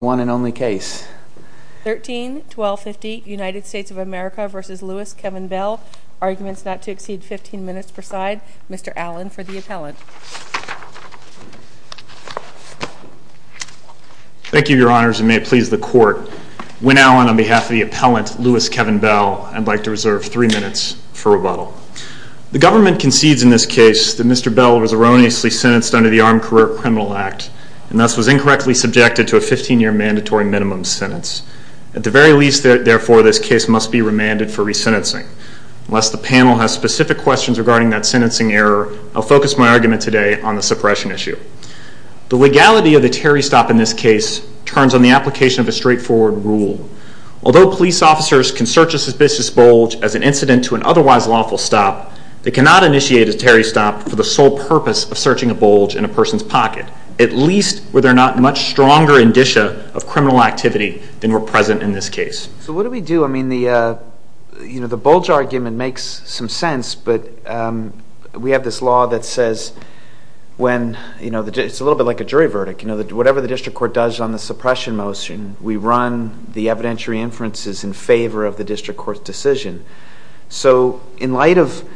One and only case. 13-1250 United States of America v. Lewis Kevin Bell. Arguments not to exceed 15 minutes per side. Mr. Allen for the appellant. Thank you your honors and may it please the court. Wynne Allen on behalf of the appellant Lewis Kevin Bell. I'd like to reserve three minutes for rebuttal. The government concedes in this case that Mr. Bell was erroneously sentenced under the Armed Career Criminal Act and thus was incorrectly subjected to a 15-year mandatory minimum sentence. At the very least therefore this case must be remanded for resentencing. Unless the panel has specific questions regarding that sentencing error, I'll focus my argument today on the suppression issue. The legality of the Terry stop in this case turns on the application of a straightforward rule. Although police officers can search a suspicious bulge as an incident to an otherwise lawful stop, they cannot initiate a Terry stop for the sole purpose of searching a bulge in a person's pocket. At least were there not much stronger indicia of criminal activity than were present in this case. So what do we do? I mean the you know the bulge argument makes some sense but we have this law that says when you know it's a little bit like a jury verdict you know that whatever the district court does on the suppression motion, we run the evidentiary inferences in favor of the district court's So in light of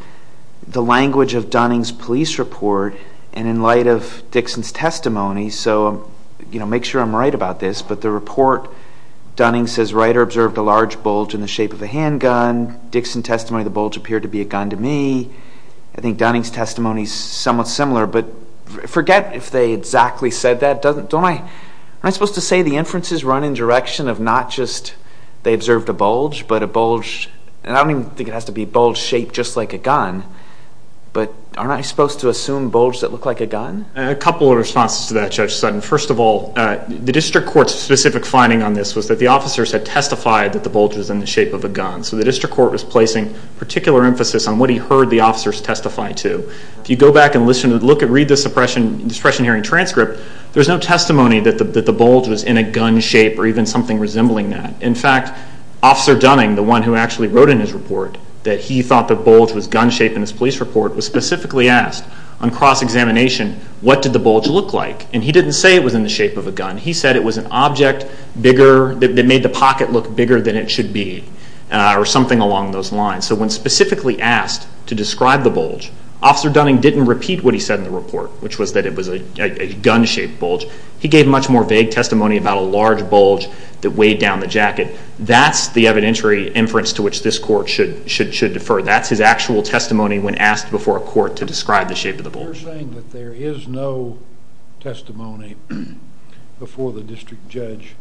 the language of Dunning's police report and in light of Dixon's testimony so you know make sure I'm right about this but the report Dunning says writer observed a large bulge in the shape of a handgun. Dixon testimony the bulge appeared to be a gun to me. I think Dunning's testimony is somewhat similar but forget if they exactly said that doesn't don't I am I supposed to say the inferences run in direction of not just they observed a bulge but a bulge and I don't even think it has to be bulge shaped just like a gun but aren't I supposed to assume bulge that look like a gun? A couple of responses to that Judge Sutton. First of all the district court's specific finding on this was that the officers had testified that the bulge was in the shape of a gun so the district court was placing particular emphasis on what he heard the officers testify to. If you go back and listen to look at read the suppression hearing transcript there's no testimony that the bulge was in a gun shape or something resembling that. In fact officer Dunning the one who actually wrote in his report that he thought the bulge was gun shaped in his police report was specifically asked on cross-examination what did the bulge look like and he didn't say it was in the shape of a gun he said it was an object bigger that made the pocket look bigger than it should be or something along those lines so when specifically asked to describe the bulge officer Dunning didn't repeat what he said in the report which was that it was a gun shaped bulge. He gave much more vague testimony about a large bulge that weighed down the jacket. That's the evidentiary inference to which this court should defer. That's his actual testimony when asked before a court to describe the shape of the bulge. You're saying that there is no testimony before the district judge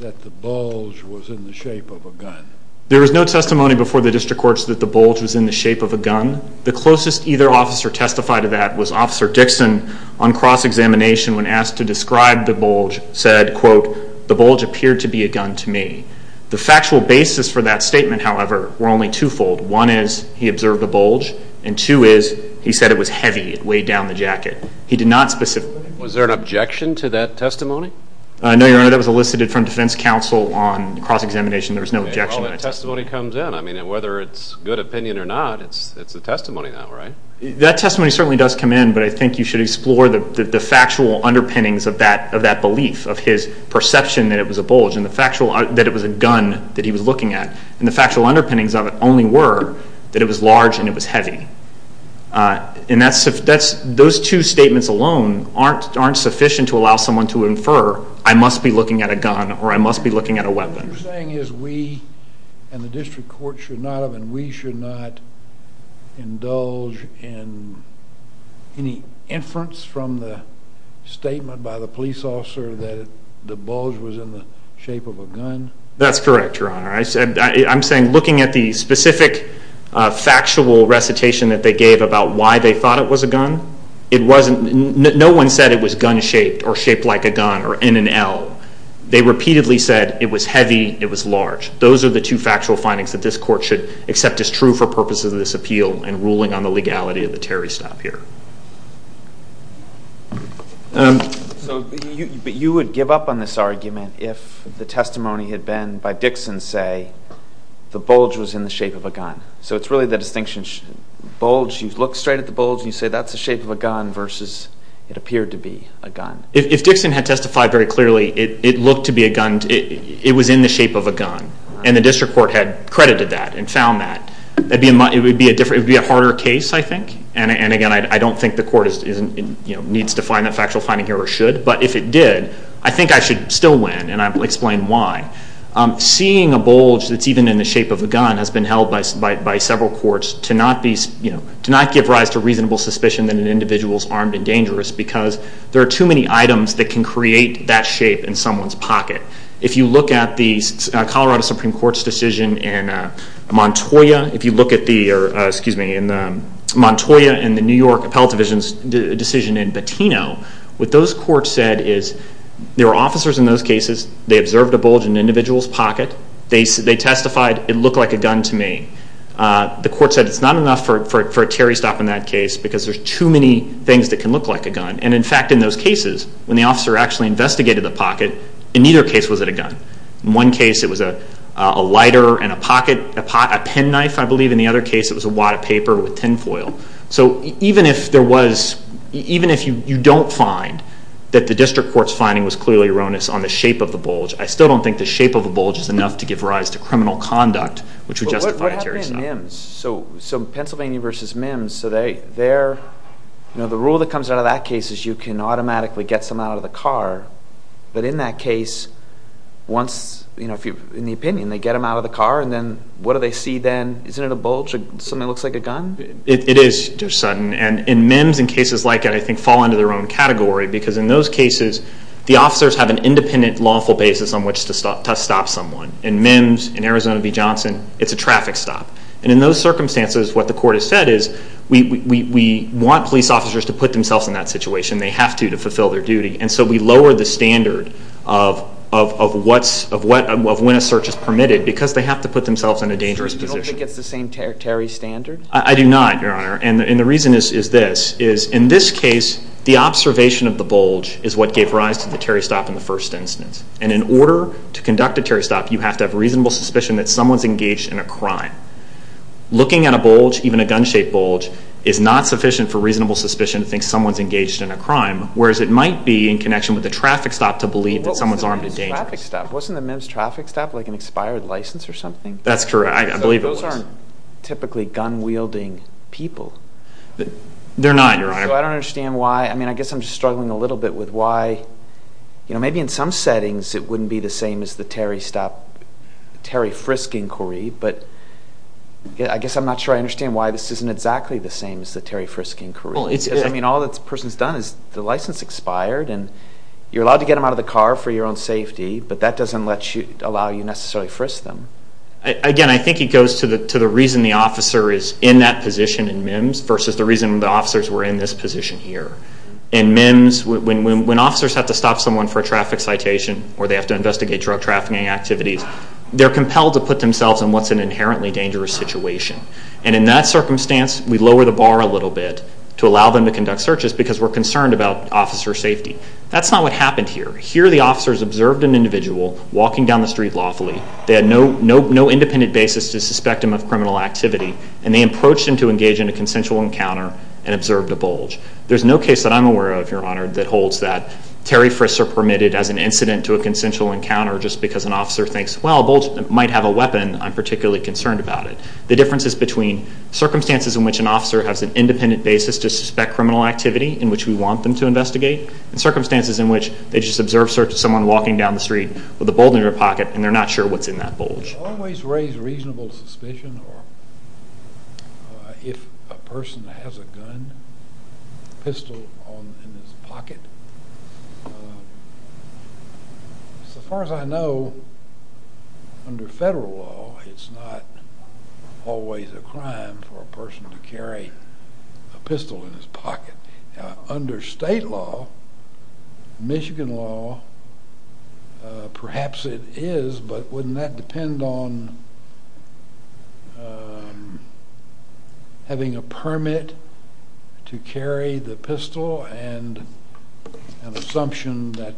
that the bulge was in the shape of a gun? There was no testimony before the district courts that the bulge was in the shape of a gun. The closest either officer testified to that was officer Dixon on cross-examination when asked to describe the bulge said quote the bulge appeared to be a gun to me. The factual basis for that statement however were only twofold. One is he observed a bulge and two is he said it was heavy it weighed down the jacket. He did not specifically. Was there an objection to that testimony? No your honor that was elicited from defense counsel on cross-examination there was no objection. Well that testimony comes in I mean whether it's good opinion or not it's it's a testimony now right? That testimony certainly does come in but I think you should explore the the factual underpinnings of that of that belief of his perception that it was a bulge and the factual that it was a gun that he was looking at and the factual underpinnings of it only were that it was large and it was heavy uh and that's that's those two statements alone aren't aren't sufficient to allow someone to infer I must be looking at a gun or I must be looking at a weapon. What you're saying is we and the district court should not have and we should not indulge in any inference from the statement by the police officer that the bulge was in the shape of a gun? That's correct your honor I said I'm saying looking at the specific uh factual recitation that they gave about why they thought it was a gun it wasn't no one said it was gun shaped or shaped like a gun or N and L. They repeatedly said it was heavy it was large those are the two factual findings that this court should accept as true for purposes of this appeal and ruling on the legality of the Terry stop here. So you but you would give up on this argument if the testimony had been by Dixon say the bulge was in the shape of a gun so it's really the distinction bulge you look straight at the bulge and you say that's the shape of a gun versus it appeared to be a gun. If Dixon had testified very clearly it it looked to be a gun it was in the shape of a gun and the district court had credited that and found that that'd be it would be a different it would be a harder case I think and again I don't think the court is isn't you know needs to find that factual finding here or should but if it did I think I should still win and I'll explain why. Seeing a bulge that's even in the shape of a gun has been held by several courts to not be you know to not give rise to reasonable suspicion that an individual's armed and dangerous because there are too many items that can create that shape in someone's pocket. If you look at the Colorado Supreme Court's decision in Montoya if you look at the or excuse me in the Montoya and the New York Appellate Division's decision in Patino what those courts said is there were officers in those cases they observed a bulge in an individual's pocket they said they testified it looked like a gun to me. The court said it's not enough for a Terry stop in that case because there's too many things that can look like a gun and in fact in those cases when the officer actually investigated the pocket in neither case was it a gun. In one case it was a a lighter and a pocket a pen knife I believe in the other case it was a wad of paper with tinfoil. So even if there was even if you don't find that the district court's finding was clearly erroneous on the shape of the bulge I still don't think the shape of a bulge is enough to give rise to criminal conduct which would the rule that comes out of that case is you can automatically get someone out of the car but in that case once you know if you in the opinion they get them out of the car and then what do they see then isn't it a bulge or something looks like a gun? It is just sudden and in MIMS and cases like that I think fall into their own category because in those cases the officers have an independent lawful basis on which to stop someone. In MIMS in Arizona v. Johnson it's a traffic stop and in those circumstances what the court has said is we want police officers to put themselves in that situation they have to to fulfill their duty and so we lower the standard of when a search is permitted because they have to put themselves in a dangerous position. So you don't think it's the same Terry standard? I do not your honor and the reason is this is in this case the observation of the bulge is what gave rise to the Terry stop in the first instance and in order to conduct a Terry stop you have to have reasonable suspicion that someone's engaged in a crime. Looking at a bulge even a gun-shaped bulge is not sufficient for reasonable suspicion to think someone's engaged in a crime whereas it might be in connection with the traffic stop to believe that someone's armed and dangerous. Wasn't the MIMS traffic stop like an expired license or something? That's correct I believe it was. Those aren't typically gun-wielding people. They're not your honor. So I don't understand why I mean I guess I'm just struggling a little bit with why you know maybe in some settings it wouldn't be the Terry stop Terry frisking query but I guess I'm not sure I understand why this isn't exactly the same as the Terry frisking query. I mean all that person's done is the license expired and you're allowed to get them out of the car for your own safety but that doesn't let you allow you necessarily frisk them. Again I think it goes to the to the reason the officer is in that position in MIMS versus the reason the officers were in this position here. In MIMS when officers have to stop someone for a traffic citation or they have to investigate drug trafficking activities they're compelled to put themselves in what's an inherently dangerous situation and in that circumstance we lower the bar a little bit to allow them to conduct searches because we're concerned about officer safety. That's not what happened here. Here the officers observed an individual walking down the street lawfully. They had no independent basis to suspect him of criminal activity and they approached him to engage in a consensual encounter and observed a Terry frisker permitted as an incident to a consensual encounter just because an officer thinks well a bulge might have a weapon I'm particularly concerned about it. The difference is between circumstances in which an officer has an independent basis to suspect criminal activity in which we want them to investigate and circumstances in which they just observed someone walking down the street with a bulge in their pocket and they're not sure what's in that bulge. Always raise reasonable suspicion or if a person has a gun pistol on in his pocket. So far as I know under federal law it's not always a crime for a person to carry a pistol in his pocket. Under state law Michigan law perhaps it is but wouldn't that depend on having a permit to carry the pistol and an assumption that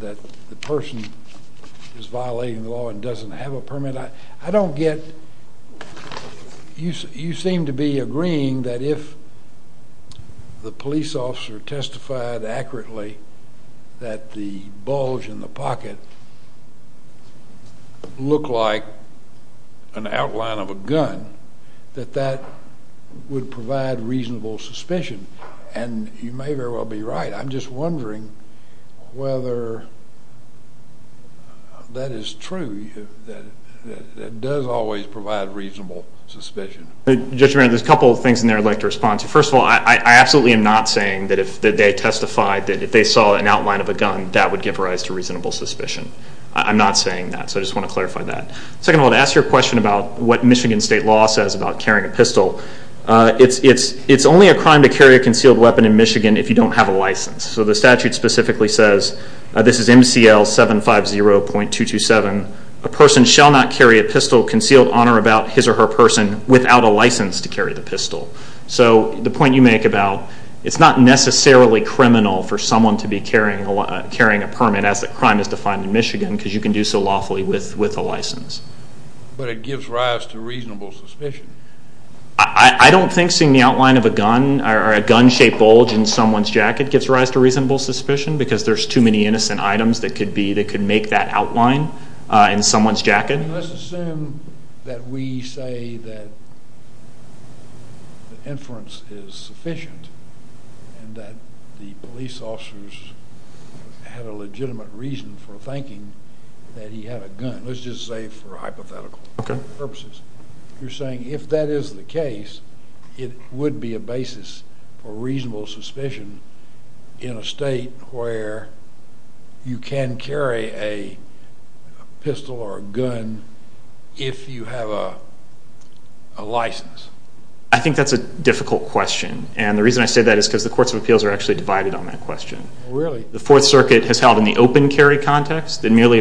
that the person is violating the law and doesn't have a permit. I don't get you seem to be agreeing that if the police officer testified accurately that the bulge in the pocket looked like an outline of a gun that that would provide reasonable suspicion and you may very well be right. I'm just wondering whether that is true that does always provide reasonable suspicion. Judge, there's a couple of things in there I'd like to respond to. First of all I absolutely am not saying that if they testified that if they saw an outline of a gun that would give rise to I'm not saying that so I just want to clarify that. Second I want to ask you a question about what Michigan state law says about carrying a pistol. It's only a crime to carry a concealed weapon in Michigan if you don't have a license. So the statute specifically says this is MCL 750.227 a person shall not carry a pistol concealed on or about his or her person without a license to carry the pistol. So the point you make about it's not necessarily criminal for someone to be because you can do so lawfully with a license. But it gives rise to reasonable suspicion. I don't think seeing the outline of a gun or a gun shaped bulge in someone's jacket gives rise to reasonable suspicion because there's too many innocent items that could make that outline in someone's jacket. Let's assume that we say that the inference is sufficient and that the that he had a gun. Let's just say for hypothetical purposes you're saying if that is the case it would be a basis for reasonable suspicion in a state where you can carry a pistol or a gun if you have a license. I think that's a difficult question and the reason I say that is because the courts of appeals are actually divided on that question. Really? The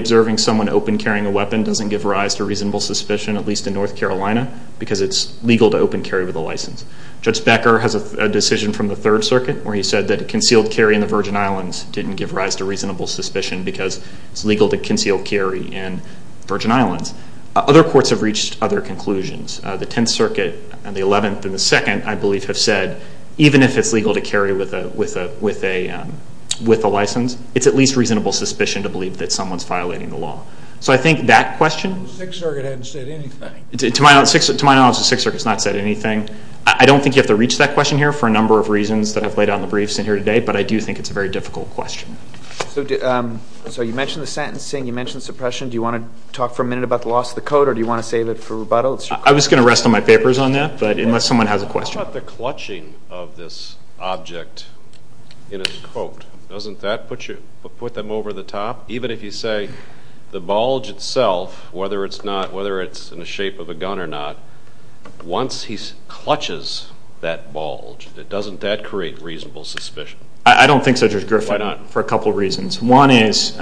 observing someone open carrying a weapon doesn't give rise to reasonable suspicion at least in North Carolina because it's legal to open carry with a license. Judge Becker has a decision from the Third Circuit where he said that a concealed carry in the Virgin Islands didn't give rise to reasonable suspicion because it's legal to conceal carry in Virgin Islands. Other courts have reached other conclusions. The Tenth Circuit and the Eleventh and the Second I believe have said even if it's legal to carry with a license it's at least reasonable suspicion to believe that it's violating the law. So I think that question... The Sixth Circuit hasn't said anything. To my knowledge the Sixth Circuit has not said anything. I don't think you have to reach that question here for a number of reasons that I've laid out in the briefs in here today but I do think it's a very difficult question. So you mentioned the sentencing, you mentioned suppression. Do you want to talk for a minute about the loss of the code or do you want to save it for rebuttal? I'm just going to rest on my papers on that but unless someone has a question. What about the clutching of this object in a quote? Doesn't that put you put them over the top even if you say the bulge itself whether it's not whether it's in the shape of a gun or not once he clutches that bulge doesn't that create reasonable suspicion? I don't think so Judge Griffin for a couple reasons. One is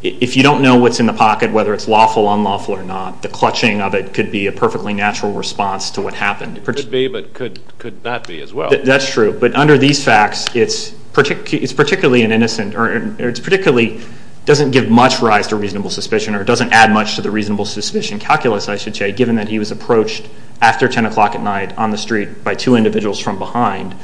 if you don't know what's in the pocket whether it's lawful unlawful or not the clutching of it could be a perfectly natural response to what happened. It could be but could could not be as well. That's true but under these facts it's particularly an innocent or it's particularly doesn't give much rise to reasonable suspicion or doesn't add much to the reasonable suspicion calculus I should say given that he was approached after 10 o'clock at night on the street by two individuals from behind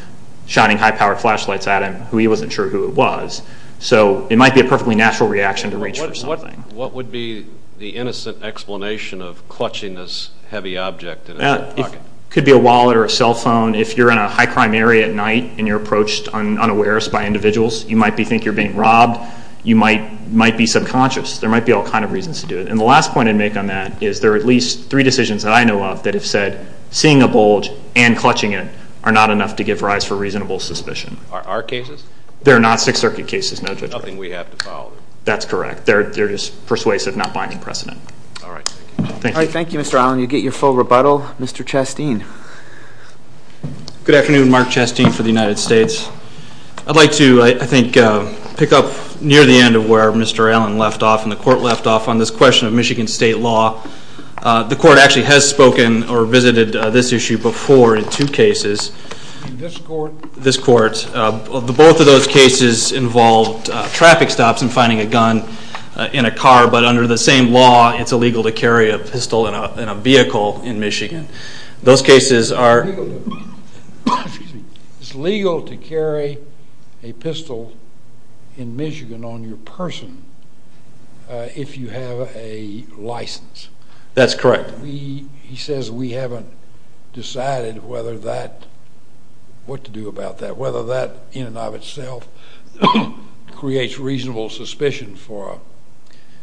shining high-powered flashlights at him who he wasn't sure who it was. So it might be a perfectly natural reaction to reach for something. What would be the innocent explanation of clutching this object? It could be a wallet or a cell phone. If you're in a high crime area at night and you're approached on unawares by individuals you might be think you're being robbed. You might might be subconscious. There might be all kind of reasons to do it and the last point I'd make on that is there are at least three decisions that I know of that have said seeing a bulge and clutching it are not enough to give rise for reasonable suspicion. Are our cases? They're not Sixth Circuit cases. Nothing we have to follow. That's correct. They're just persuasive not binding precedent. All right thank you Mr. Allen. You get your full rebuttal. Mr. Chasteen. Good afternoon. Mark Chasteen for the United States. I'd like to I think pick up near the end of where Mr. Allen left off and the court left off on this question of Michigan state law. The court actually has spoken or visited this issue before in two cases. This court? This court. Both of those cases involved traffic stops and finding a gun in a car, but under the same law it's illegal to carry a pistol in a vehicle in Michigan. Those cases are... It's legal to carry a pistol in Michigan on your person if you have a license. That's correct. He says we haven't decided whether that, what to do about that, whether that in and of itself creates reasonable suspicion for a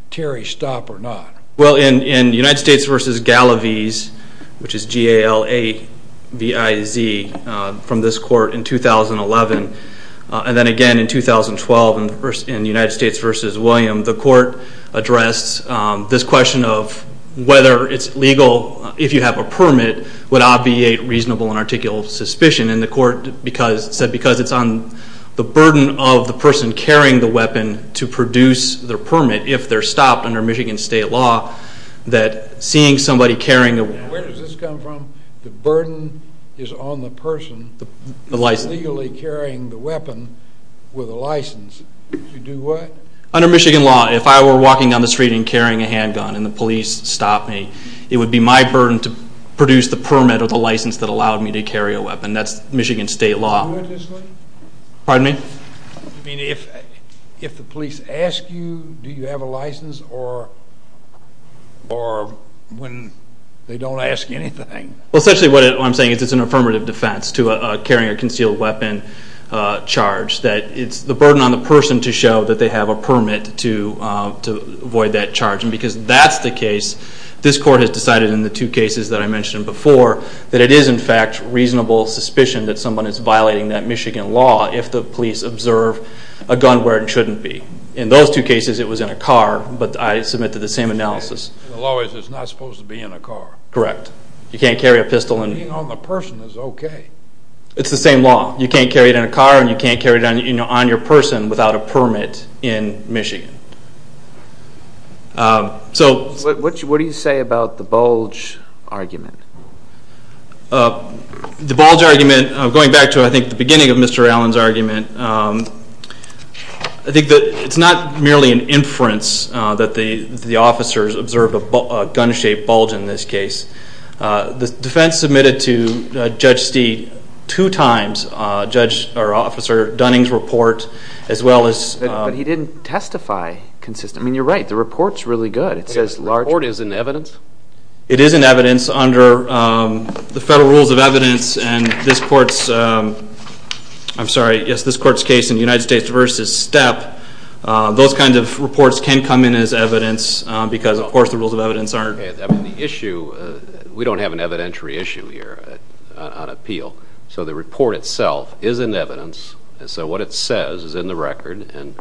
Terry stop or not. Well in United States versus Galaviz, which is G-A-L-A-V-I-Z, from this court in 2011 and then again in 2012 in the first in the United States versus William, the court addressed this question of whether it's legal if you have a permit would obviate reasonable and articulable suspicion and the court said because it's on the burden of the person carrying the weapon to produce the permit if they're stopped under Michigan state law that seeing somebody carrying... Where does this come from? The burden is on the person legally carrying the weapon with a license to do what? Under Michigan law if I were walking down the street and carrying a handgun and the police stopped me, it would be my burden to produce the permit or the license that allowed me to carry a weapon. That's Michigan state law. Pardon me? I mean if the police ask you do you have a license or when they don't ask anything? Well essentially what I'm saying is it's an affirmative defense to a carrying a concealed weapon charge. That it's the burden on the person to show that they have a permit to avoid that charge and because that's the case this court has decided in the two cases that I mentioned before that it is in fact reasonable suspicion that someone is violating that Michigan law if the police observe a gun where it shouldn't be. In those two cases it was in a car but I submit to the same analysis. The law is it's not supposed to be in a car. Correct. You can't carry a pistol and... Being on the person is okay. It's the same law you can't carry it in a car and you can't carry it on you know on your person without a permit in Michigan. So what do you say about the bulge argument? The bulge argument going back to I think the beginning of Mr. Allen's argument. I think that it's not merely an inference that the the officers observed a gun-shaped bulge in this case. The defense submitted to Judge Steed two times. Judge or Officer Dunning's report as well as... But he didn't testify consistently. I mean you're right the report's really good. It says large... The report is in evidence? It is in evidence under the federal rules of evidence and this court's I'm sorry yes this court's case in the United States versus Step those kinds of reports can come in as evidence because of course the rules of evidence I mean the issue we don't have an evidentiary issue here on appeal so the report itself is in evidence and so what it says is in the record and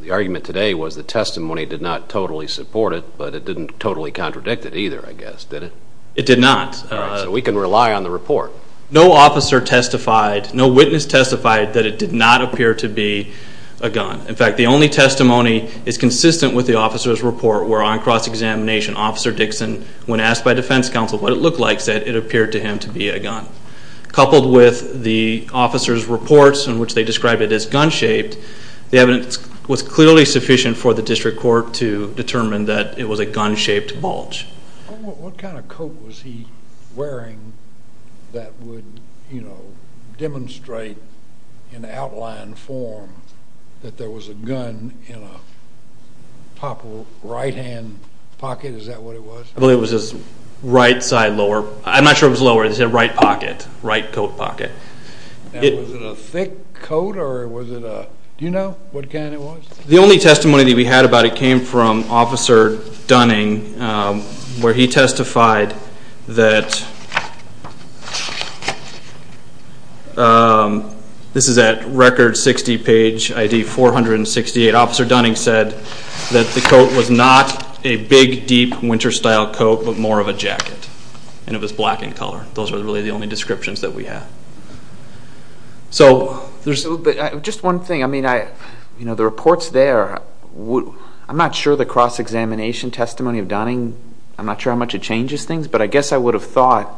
the argument today was the testimony did not totally support it but it didn't totally contradict it either I guess did it? It did not. So we can rely on the report. No officer testified no witness testified that it did not appear to be a gun in fact the only testimony is consistent with the officer's report where on cross-examination Officer Dixon when asked by Defense Counsel what it looked like said it appeared to him to be a gun. Coupled with the officer's reports in which they described it as gun-shaped the evidence was clearly sufficient for the district court to determine that it was a gun-shaped bulge. What kind of coat was he wearing that would you demonstrate in outline form that there was a gun in a proper right hand pocket is that what it was? I believe it was his right side lower I'm not sure it was lower it said right pocket right coat pocket. Was it a thick coat or was it a do you know what kind it was? The only testimony that we had about it came from Officer Dunning where he testified that this is at record 60 page ID 468 Officer Dunning said that the coat was not a big deep winter style coat but more of a jacket and it was black in color those are really the only descriptions that we have. So there's just one thing I mean I you know the reports there I'm not sure the cross-examination testimony of Dunning I'm not sure how much it changes things but I guess I would have thought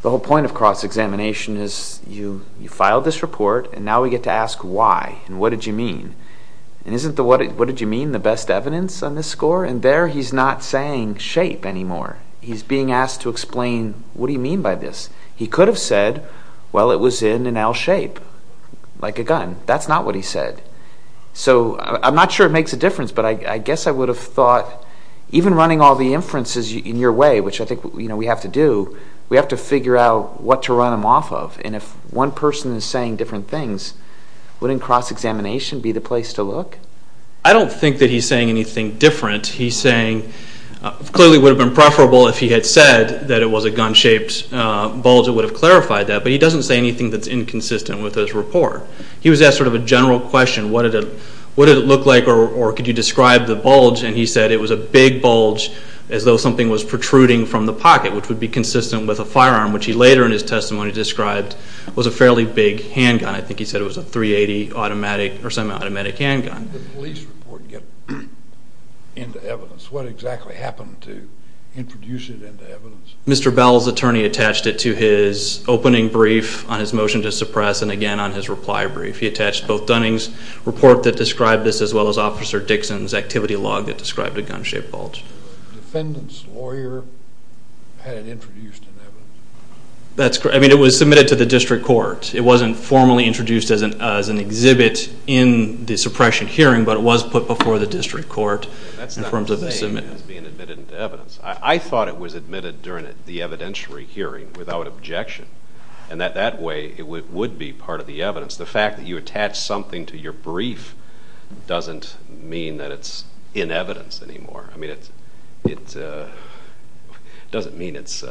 the whole point of cross-examination is you you filed this report and now we get to ask why and what did you mean and isn't the what what did you mean the best evidence on this score and there he's not saying shape anymore he's being asked to explain what do you mean by this he could have said well it was in an L shape like a gun that's not what he said so I'm not sure it makes a difference but I guess I would have thought even running all the we have to do we have to figure out what to run them off of and if one person is saying different things wouldn't cross-examination be the place to look? I don't think that he's saying anything different he's saying clearly would have been preferable if he had said that it was a gun-shaped bulge it would have clarified that but he doesn't say anything that's inconsistent with his report he was asked sort of a general question what did it what did it look like or could you describe the bulge and he said it was a big bulge as though something was protruding from the pocket which would be consistent with a firearm which he later in his testimony described was a fairly big handgun I think he said it was a 380 automatic or semi-automatic handgun. The police report get into evidence what exactly happened to introduce it into evidence? Mr. Bell's attorney attached it to his opening brief on his motion to suppress and again on his reply brief he attached both officer Dixon's activity log that described a gun-shaped bulge. Defendant's lawyer had it introduced in evidence? That's correct I mean it was submitted to the district court it wasn't formally introduced as an as an exhibit in the suppression hearing but it was put before the district court in terms of the submit. I thought it was admitted during the evidentiary hearing without objection and that that way it would be part of the evidence the fact that you attach something to your brief doesn't mean that it's in evidence anymore I mean it's it doesn't mean it's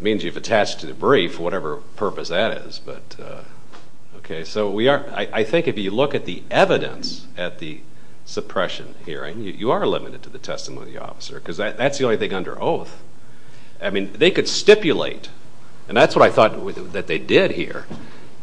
means you've attached to the brief whatever purpose that is but okay so we are I think if you look at the evidence at the suppression hearing you are limited to the testimony of the officer because that's the only thing under oath I mean they could stipulate and that's what I thought that they did here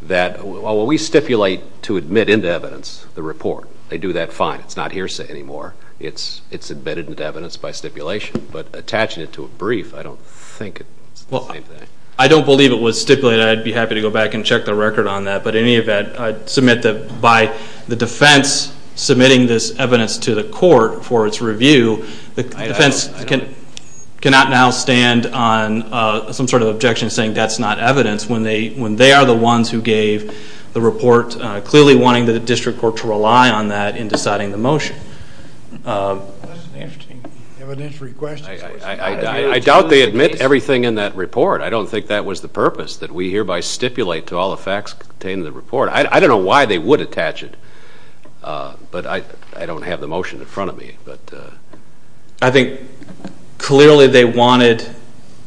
that well we stipulate to admit into evidence the report they do that fine it's not hearsay anymore it's it's admitted into evidence by stipulation but attaching it to a brief I don't think it's the same thing. I don't believe it was stipulated I'd be happy to go back and check the record on that but in any event I'd submit that by the defense submitting this evidence to the court for its review the defense can cannot now stand on some sort of objection saying that's not evidence when they when they are the ones who gave the report clearly wanting the district court to rely on that in deciding the motion. I doubt they admit everything in that report I don't think that was the purpose that we hereby stipulate to all the facts contained in the report I don't know why they would attach it but I don't have the motion in front of me but I think clearly they wanted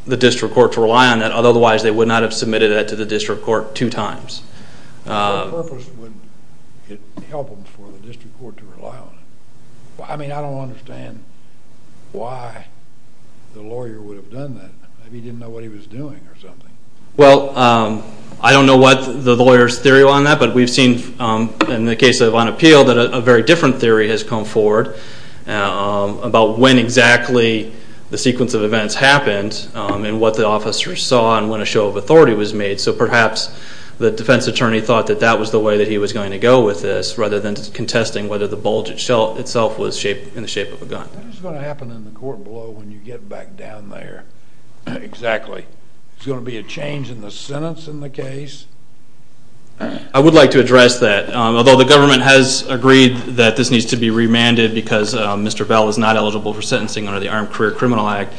the district court to rely on that otherwise they would not have submitted that to the district court two times. What purpose would it help them for the district court to rely on it? I mean I don't understand why the lawyer would have done that maybe he didn't know what he was doing or something. Well I don't know what the lawyer's theory on that but we've on appeal that a very different theory has come forward about when exactly the sequence of events happened and what the officers saw and when a show of authority was made so perhaps the defense attorney thought that that was the way that he was going to go with this rather than contesting whether the bulge itself was in the shape of a gun. That is going to happen in the court below when you get back down there. Exactly. It's going to be a change in the sentence in the case? I would like to address that although the government has agreed that this needs to be remanded because Mr. Bell is not eligible for sentencing under the Armed Career Criminal Act.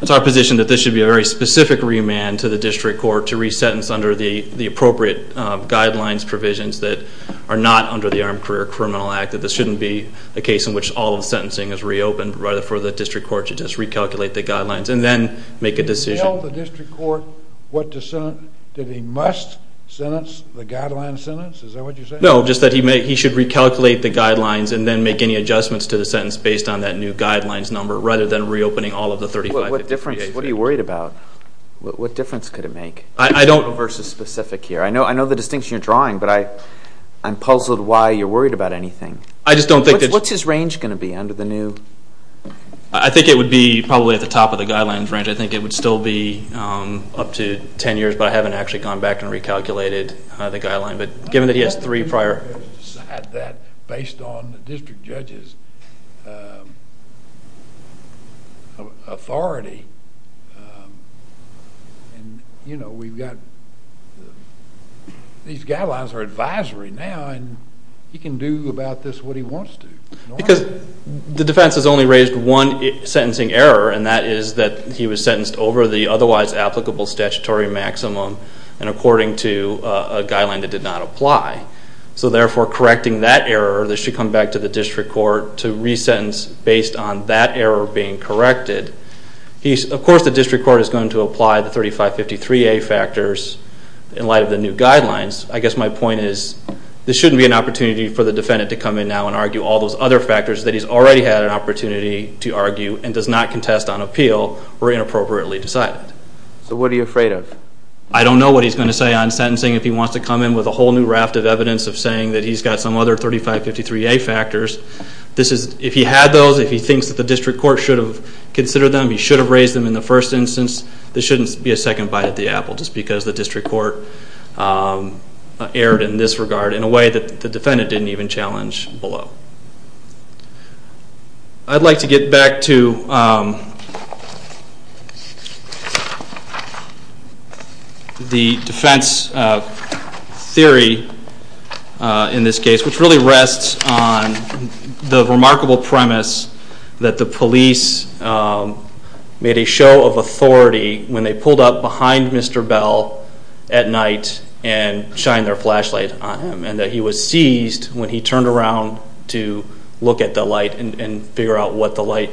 It's our position that this should be a very specific remand to the district court to resentence under the the appropriate guidelines provisions that are not under the Armed Career Criminal Act that this shouldn't be the case in which all of the sentencing is reopened rather for the district court to just recalculate the guidelines and then make a decision. Did you tell the district court what to send? Did he must sentence the guideline sentence? Is that what you said? No just that he may he should recalculate the guidelines and then make any adjustments to the sentence based on that new guidelines number rather than reopening all of the 35. What difference what are you worried about? What difference could it make? I don't know versus specific here. I know I know the distinction you're drawing but I I'm puzzled why you're worried about anything. I just don't think. What's his range going to be under the new? I think it would be probably at the top of the guidelines range. I 10 years but I haven't actually gone back and recalculated the guideline but given that he has three prior. Based on the district judge's authority and you know we've got these guidelines are advisory now and he can do about this what he wants to. Because the defense has only raised one sentencing error and that is that he was sentenced over the otherwise applicable statutory maximum and according to a guideline that did not apply. So therefore correcting that error this should come back to the district court to re-sentence based on that error being corrected. He's of course the district court is going to apply the 3553a factors in light of the new guidelines. I guess my point is this shouldn't be an opportunity for the defendant to come in now and argue all those other factors that he's already had an opportunity to argue and does not contest on appeal were inappropriately decided. So what are you afraid of? I don't know what he's going to say on sentencing if he wants to come in with a whole new raft of evidence of saying that he's got some other 3553a factors. This is if he had those if he thinks that the district court should have considered them he should have raised them in the first instance this shouldn't be a second bite at the apple just because the district court erred in this regard in a way that the defendant didn't challenge below. I'd like to get back to the defense theory in this case which really rests on the remarkable premise that the police made a show of authority when they pulled up behind Mr. Bell at night and shined their flashlight on him and that he was seized when he turned around to look at the light and figure out what the light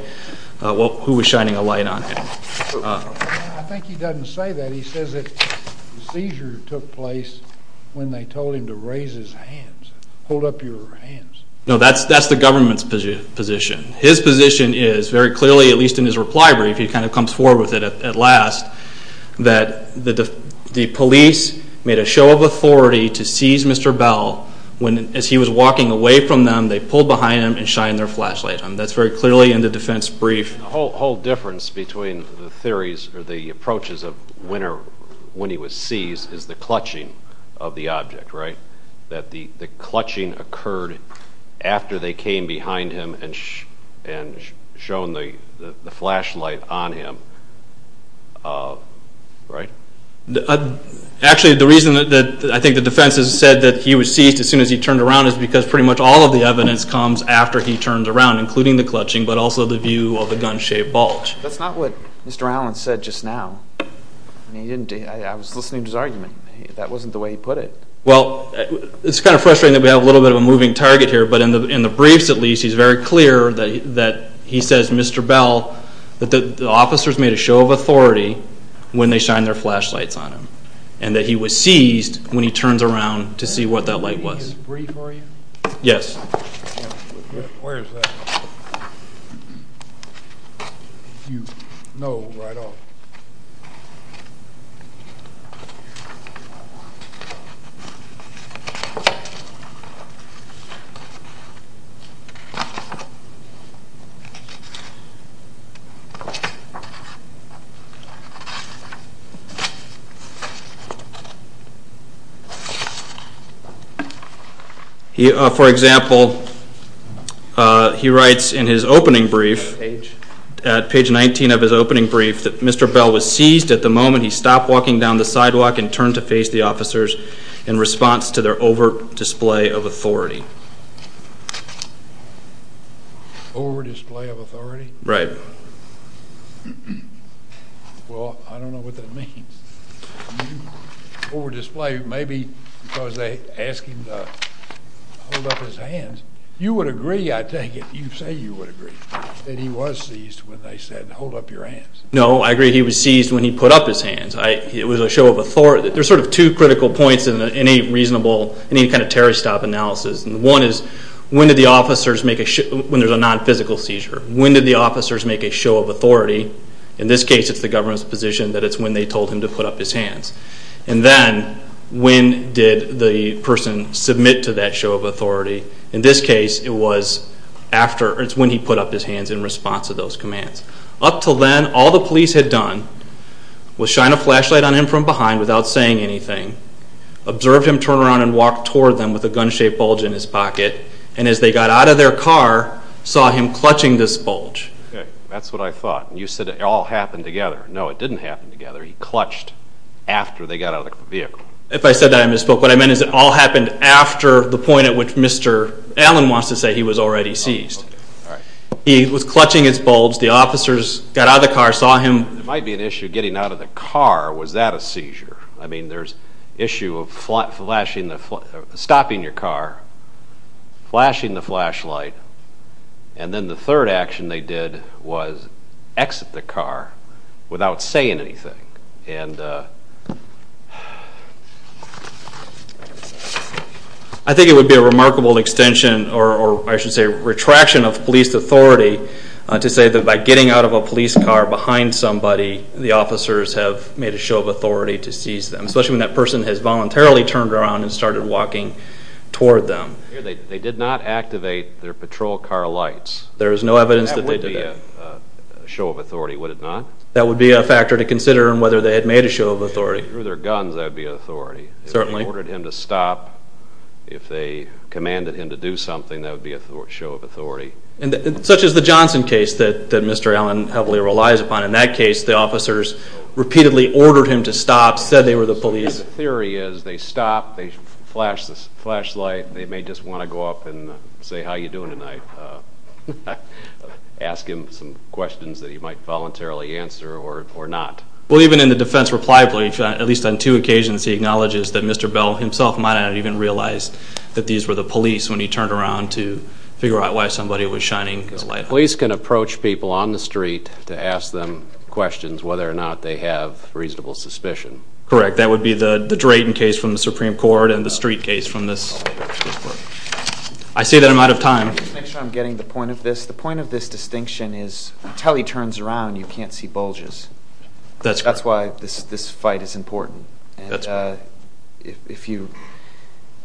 well who was shining a light on him. I think he doesn't say that he says that the seizure took place when they told him to raise his hands hold up your hands. No that's that's the government's position his position is very clearly at least in his reply brief he kind of comes forward with it at last that the the police made a show of authority to seize Mr. Bell when as he was walking away from them they pulled behind him and shined their flashlight on that's very clearly in the defense brief. The whole difference between the theories or the approaches of when or when he was seized is the clutching of the object right that the the clutching occurred after they came behind him and and shown the the flashlight on him right. Actually the reason that I think the defense has said that he was seized as soon as he turned around is because pretty much all of the evidence comes after he turns around including the clutching but also the view of the gun-shaped bulge. That's not what Mr. Allen said just now he didn't I was listening to his argument that wasn't the way he put it. Well it's kind of frustrating that we have a little bit of a moving target here but in the in the briefs at least he's very clear that that he says Mr. Bell that the officers made a show of authority when they shined their flashlights on him and that he was seized when he turns around to see what that light was. Is this a brief for you? Yes. For example he writes in his opening brief at page 19 of his opening brief that Mr. Bell was seized at the moment he stopped walking down the sidewalk and turned to face the officers in response to their over display of authority. Over display of authority? Right. Well I don't know what that means. You over display maybe because they ask him to hold up his hands. You would agree I take it you say you would agree that he was seized when they said hold up your hands. No I agree he was seized when he put up his hands. I it was a show of authority there's sort of two critical points in any reasonable any kind of terror stop analysis and one is when did the officers make a when there's a non-physical seizure? When did the officers make a show of authority? In this case it's the told him to put up his hands and then when did the person submit to that show of authority? In this case it was after it's when he put up his hands in response to those commands. Up till then all the police had done was shine a flashlight on him from behind without saying anything, observed him turn around and walk toward them with a gun-shaped bulge in his pocket and as they got out of their car saw him clutching this bulge. Okay that's what I thought you said it all happened together. No it didn't happen together he clutched after they got out of the vehicle. If I said that I misspoke what I meant is it all happened after the point at which Mr. Allen wants to say he was already seized. He was clutching his bulge the officers got out of the car saw him. There might be an issue getting out of the car was that a seizure? I mean there's issue of flashing the stopping your car flashing the flashlight and then the without saying anything. I think it would be a remarkable extension or I should say retraction of police authority to say that by getting out of a police car behind somebody the officers have made a show of authority to seize them especially when that person has voluntarily turned around and started walking toward them. They did not activate their patrol car lights. There is no evidence that they did that. That would be a show of authority would it not? That would be a factor to consider and whether they had made a show of authority. If they drew their guns that would be authority. Certainly. If they ordered him to stop if they commanded him to do something that would be a show of authority. And such as the Johnson case that Mr. Allen heavily relies upon in that case the officers repeatedly ordered him to stop said they were the police. The theory is they stop they flash this flashlight they may just want to go up and say how you doing tonight. Ask him some questions that he might voluntarily answer or not. Well even in the defense reply brief at least on two occasions he acknowledges that Mr. Bell himself might not even realize that these were the police when he turned around to figure out why somebody was shining his light. Police can approach people on the street to ask them questions whether or not they have reasonable suspicion. Correct that would be the Drayton case from the Supreme Court and the street case from this. I say that I'm out of time. Just make sure I'm getting the point of this. The point of this distinction is until he turns around you can't see bulges. That's correct. That's why this this fight is important and uh if you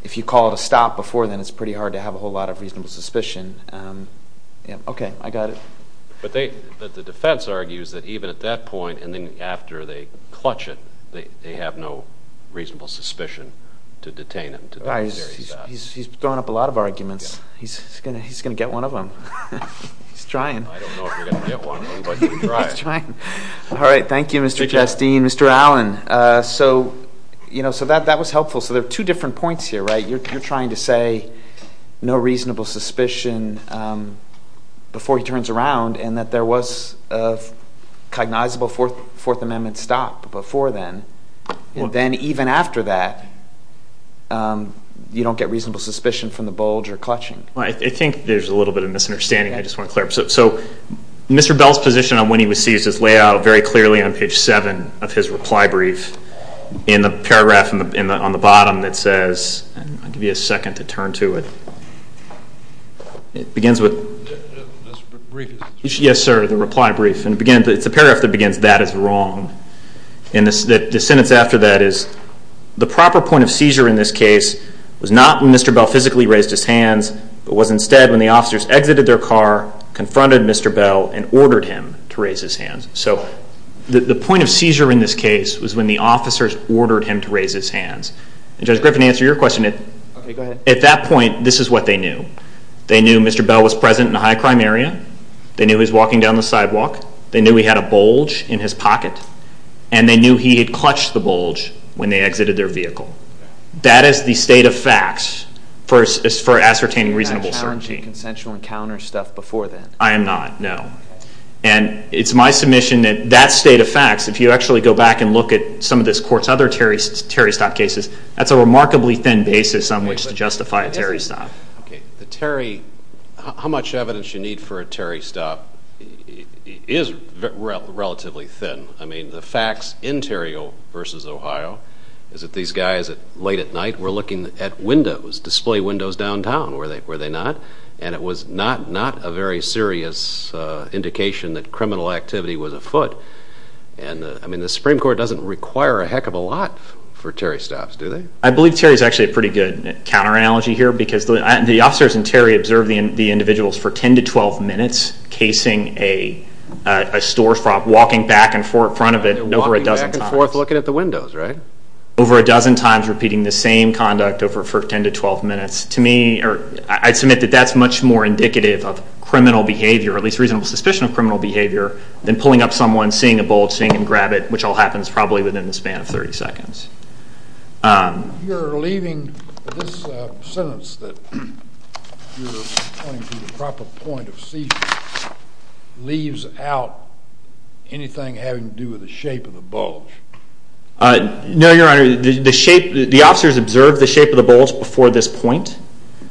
if you call it a stop before then it's pretty hard to have a whole lot of reasonable suspicion um yeah okay I got it. But they the defense argues that even at that point and then after they clutch it they have no reasonable suspicion to detain him. He's throwing up a lot of arguments. He's gonna he's gonna get one of them. He's trying. I don't know if we're gonna get one but he's trying. All right thank you Mr. Chasteen. Mr. Allen uh so you know so that that was helpful. So there are two different points here right? You're trying to say no reasonable suspicion um before he turns around and that there was a cognizable fourth amendment stop before then and then even after that um you don't get reasonable suspicion from the bulge or clutching. I think there's a little bit of misunderstanding I just want to clear up. So Mr. Bell's position on when he receives his layout very clearly on page seven of his reply brief in the paragraph in the on the bottom that says I'll give you a second to turn to it. It begins with yes sir the reply brief and it begins it's a paragraph that begins that is wrong and this that the sentence after that is the proper point of seizure in this case was not when Mr. Bell physically raised his hands but was instead when the officers exited their car confronted Mr. Bell and ordered him to raise his hands. So the the point of seizure in this case was when the officers ordered him to raise his hands. And Judge Griffin to answer your question at that point this is what they knew. They knew Mr. Bell was present in a high crime area. They knew he was walking down the sidewalk. They knew he had a bulge in his pocket and they knew he had clutched the bulge when they exited their vehicle. That is the state of facts for as for ascertaining reasonable certainty. You're not challenging consensual encounter stuff before then? I am not, no. And it's my submission that that state of facts if you actually go back and look at some of this court's other Terry stop cases that's a remarkably thin basis on which to justify Terry stop. Okay the Terry how much evidence you need for a Terry stop is relatively thin. I mean the facts in Terry versus Ohio is that these guys at late at night were looking at windows display windows downtown were they were they not and it was not not a very serious indication that criminal activity was afoot. And I mean the Supreme Court doesn't require a heck of a lot for Terry stops do they? I believe Terry is actually a pretty good counter analogy here because the officers in Terry observed the individuals for 10 to 12 minutes casing a storefront walking back and forth in front of it over a dozen times. Looking at the windows right? Over a dozen times repeating the same conduct over for 10 to 12 minutes to me or I'd submit that that's much more indicative of criminal behavior at least reasonable suspicion of criminal behavior than pulling up someone seeing a bulge seeing him grab it which all happens probably within the span of 30 seconds. You're leaving this sentence that you're pointing to the proper point of seizure leaves out anything having to do with the shape of the bulge. No your honor the shape the officers observed the shape of the bulge before this point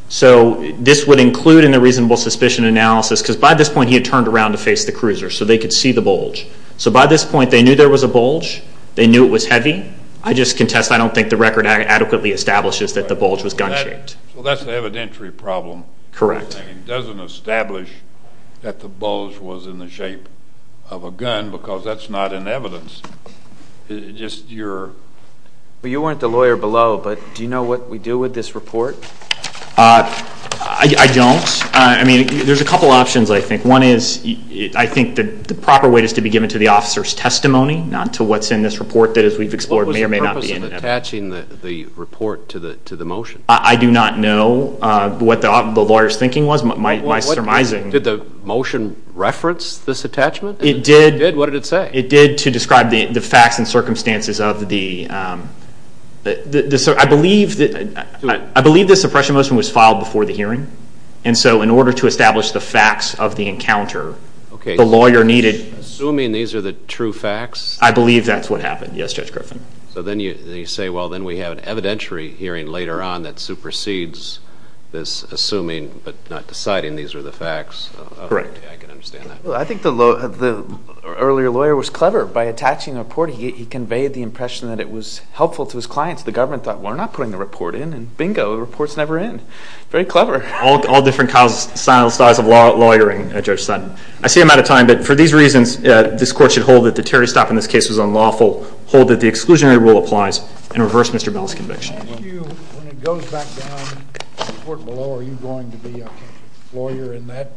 so this would include in the reasonable suspicion analysis because by this point he had turned around to face the cruiser so they could see the bulge. So by this point they knew there was a bulge they knew it was heavy. I just contest I don't think the record adequately establishes that the bulge was gun-shaped. Well that's the evidentiary problem. Correct. It doesn't establish that the bulge was in the shape of a gun because that's not in evidence just your. Well you weren't the lawyer below but do you know what we do with this report? I don't I mean there's a couple options I think one is I think that the proper weight is to be given to the officer's testimony not to what's in this report that as we've explored may or may not attaching the the report to the to the motion. I do not know what the lawyer's thinking was my surmising. Did the motion reference this attachment? It did. What did it say? It did to describe the the facts and circumstances of the I believe that I believe the suppression motion was filed before the hearing and so in order to establish the facts of the encounter okay the lawyer needed. Assuming these are the true facts. I believe that's what happened yes Judge Griffin. So then you say well then we have an evidentiary hearing later on that supersedes this assuming but not deciding these are the facts. Correct. I can understand that. I think the earlier lawyer was clever by attaching the report he conveyed the impression that it was helpful to his clients the government thought we're not putting the report in and bingo the report's never in. Very clever. All different styles of law lawyering Judge Sutton. I see I'm out of time but for these reasons this court should hold that the Terry stop in this case was unlawful hold that the exclusionary rule applies and reverse Mr. Bell's conviction. When it goes back down to the court below are you going to be a lawyer in that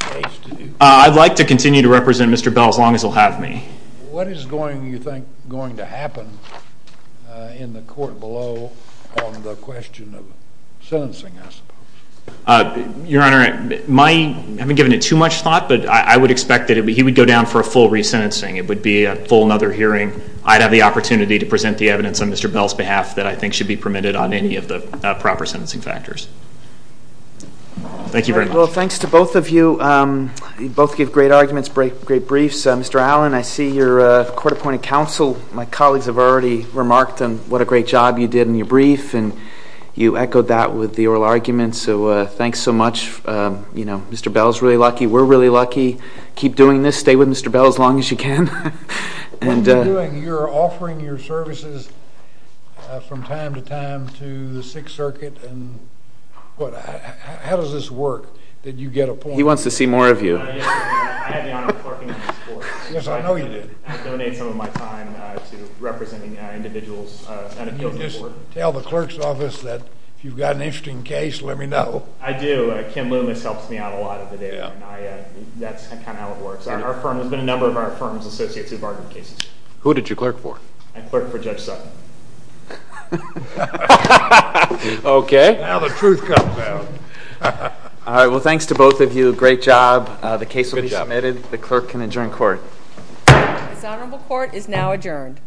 case? I'd like to continue to represent Mr. Bell as long as he'll have me. What is going you think going to happen in the court below on the question of sentencing I suppose? Your Honor my I haven't given it too much thought but I would expect that he would go down for a full re-sentencing it would be a full hearing I'd have the opportunity to present the evidence on Mr. Bell's behalf that I think should be permitted on any of the proper sentencing factors. Thank you very much. Well thanks to both of you both give great arguments break great briefs Mr. Allen I see your court appointed counsel my colleagues have already remarked on what a great job you did in your brief and you echoed that with the oral argument so thanks so much you know Mr. Bell's really lucky we're really lucky keep doing this stay with Mr. Bell as long as you can and you're offering your services from time to time to the Sixth Circuit and what how does this work that you get a point he wants to see more of you. I had the honor of clerking on this court. Yes I know you did. I donate some of my time to representing individuals. Can you just tell the clerk's office that if you've got an interesting case let me know. I do Kim Loomis helps me out a lot of the day that's kind of how it works our firm has been a number of our firm's associates who've argued cases. Who did you clerk for? I clerked for Judge Sutton. Okay now the truth comes out. All right well thanks to both of you great job the case will be submitted the clerk can adjourn court. This honorable court is now adjourned.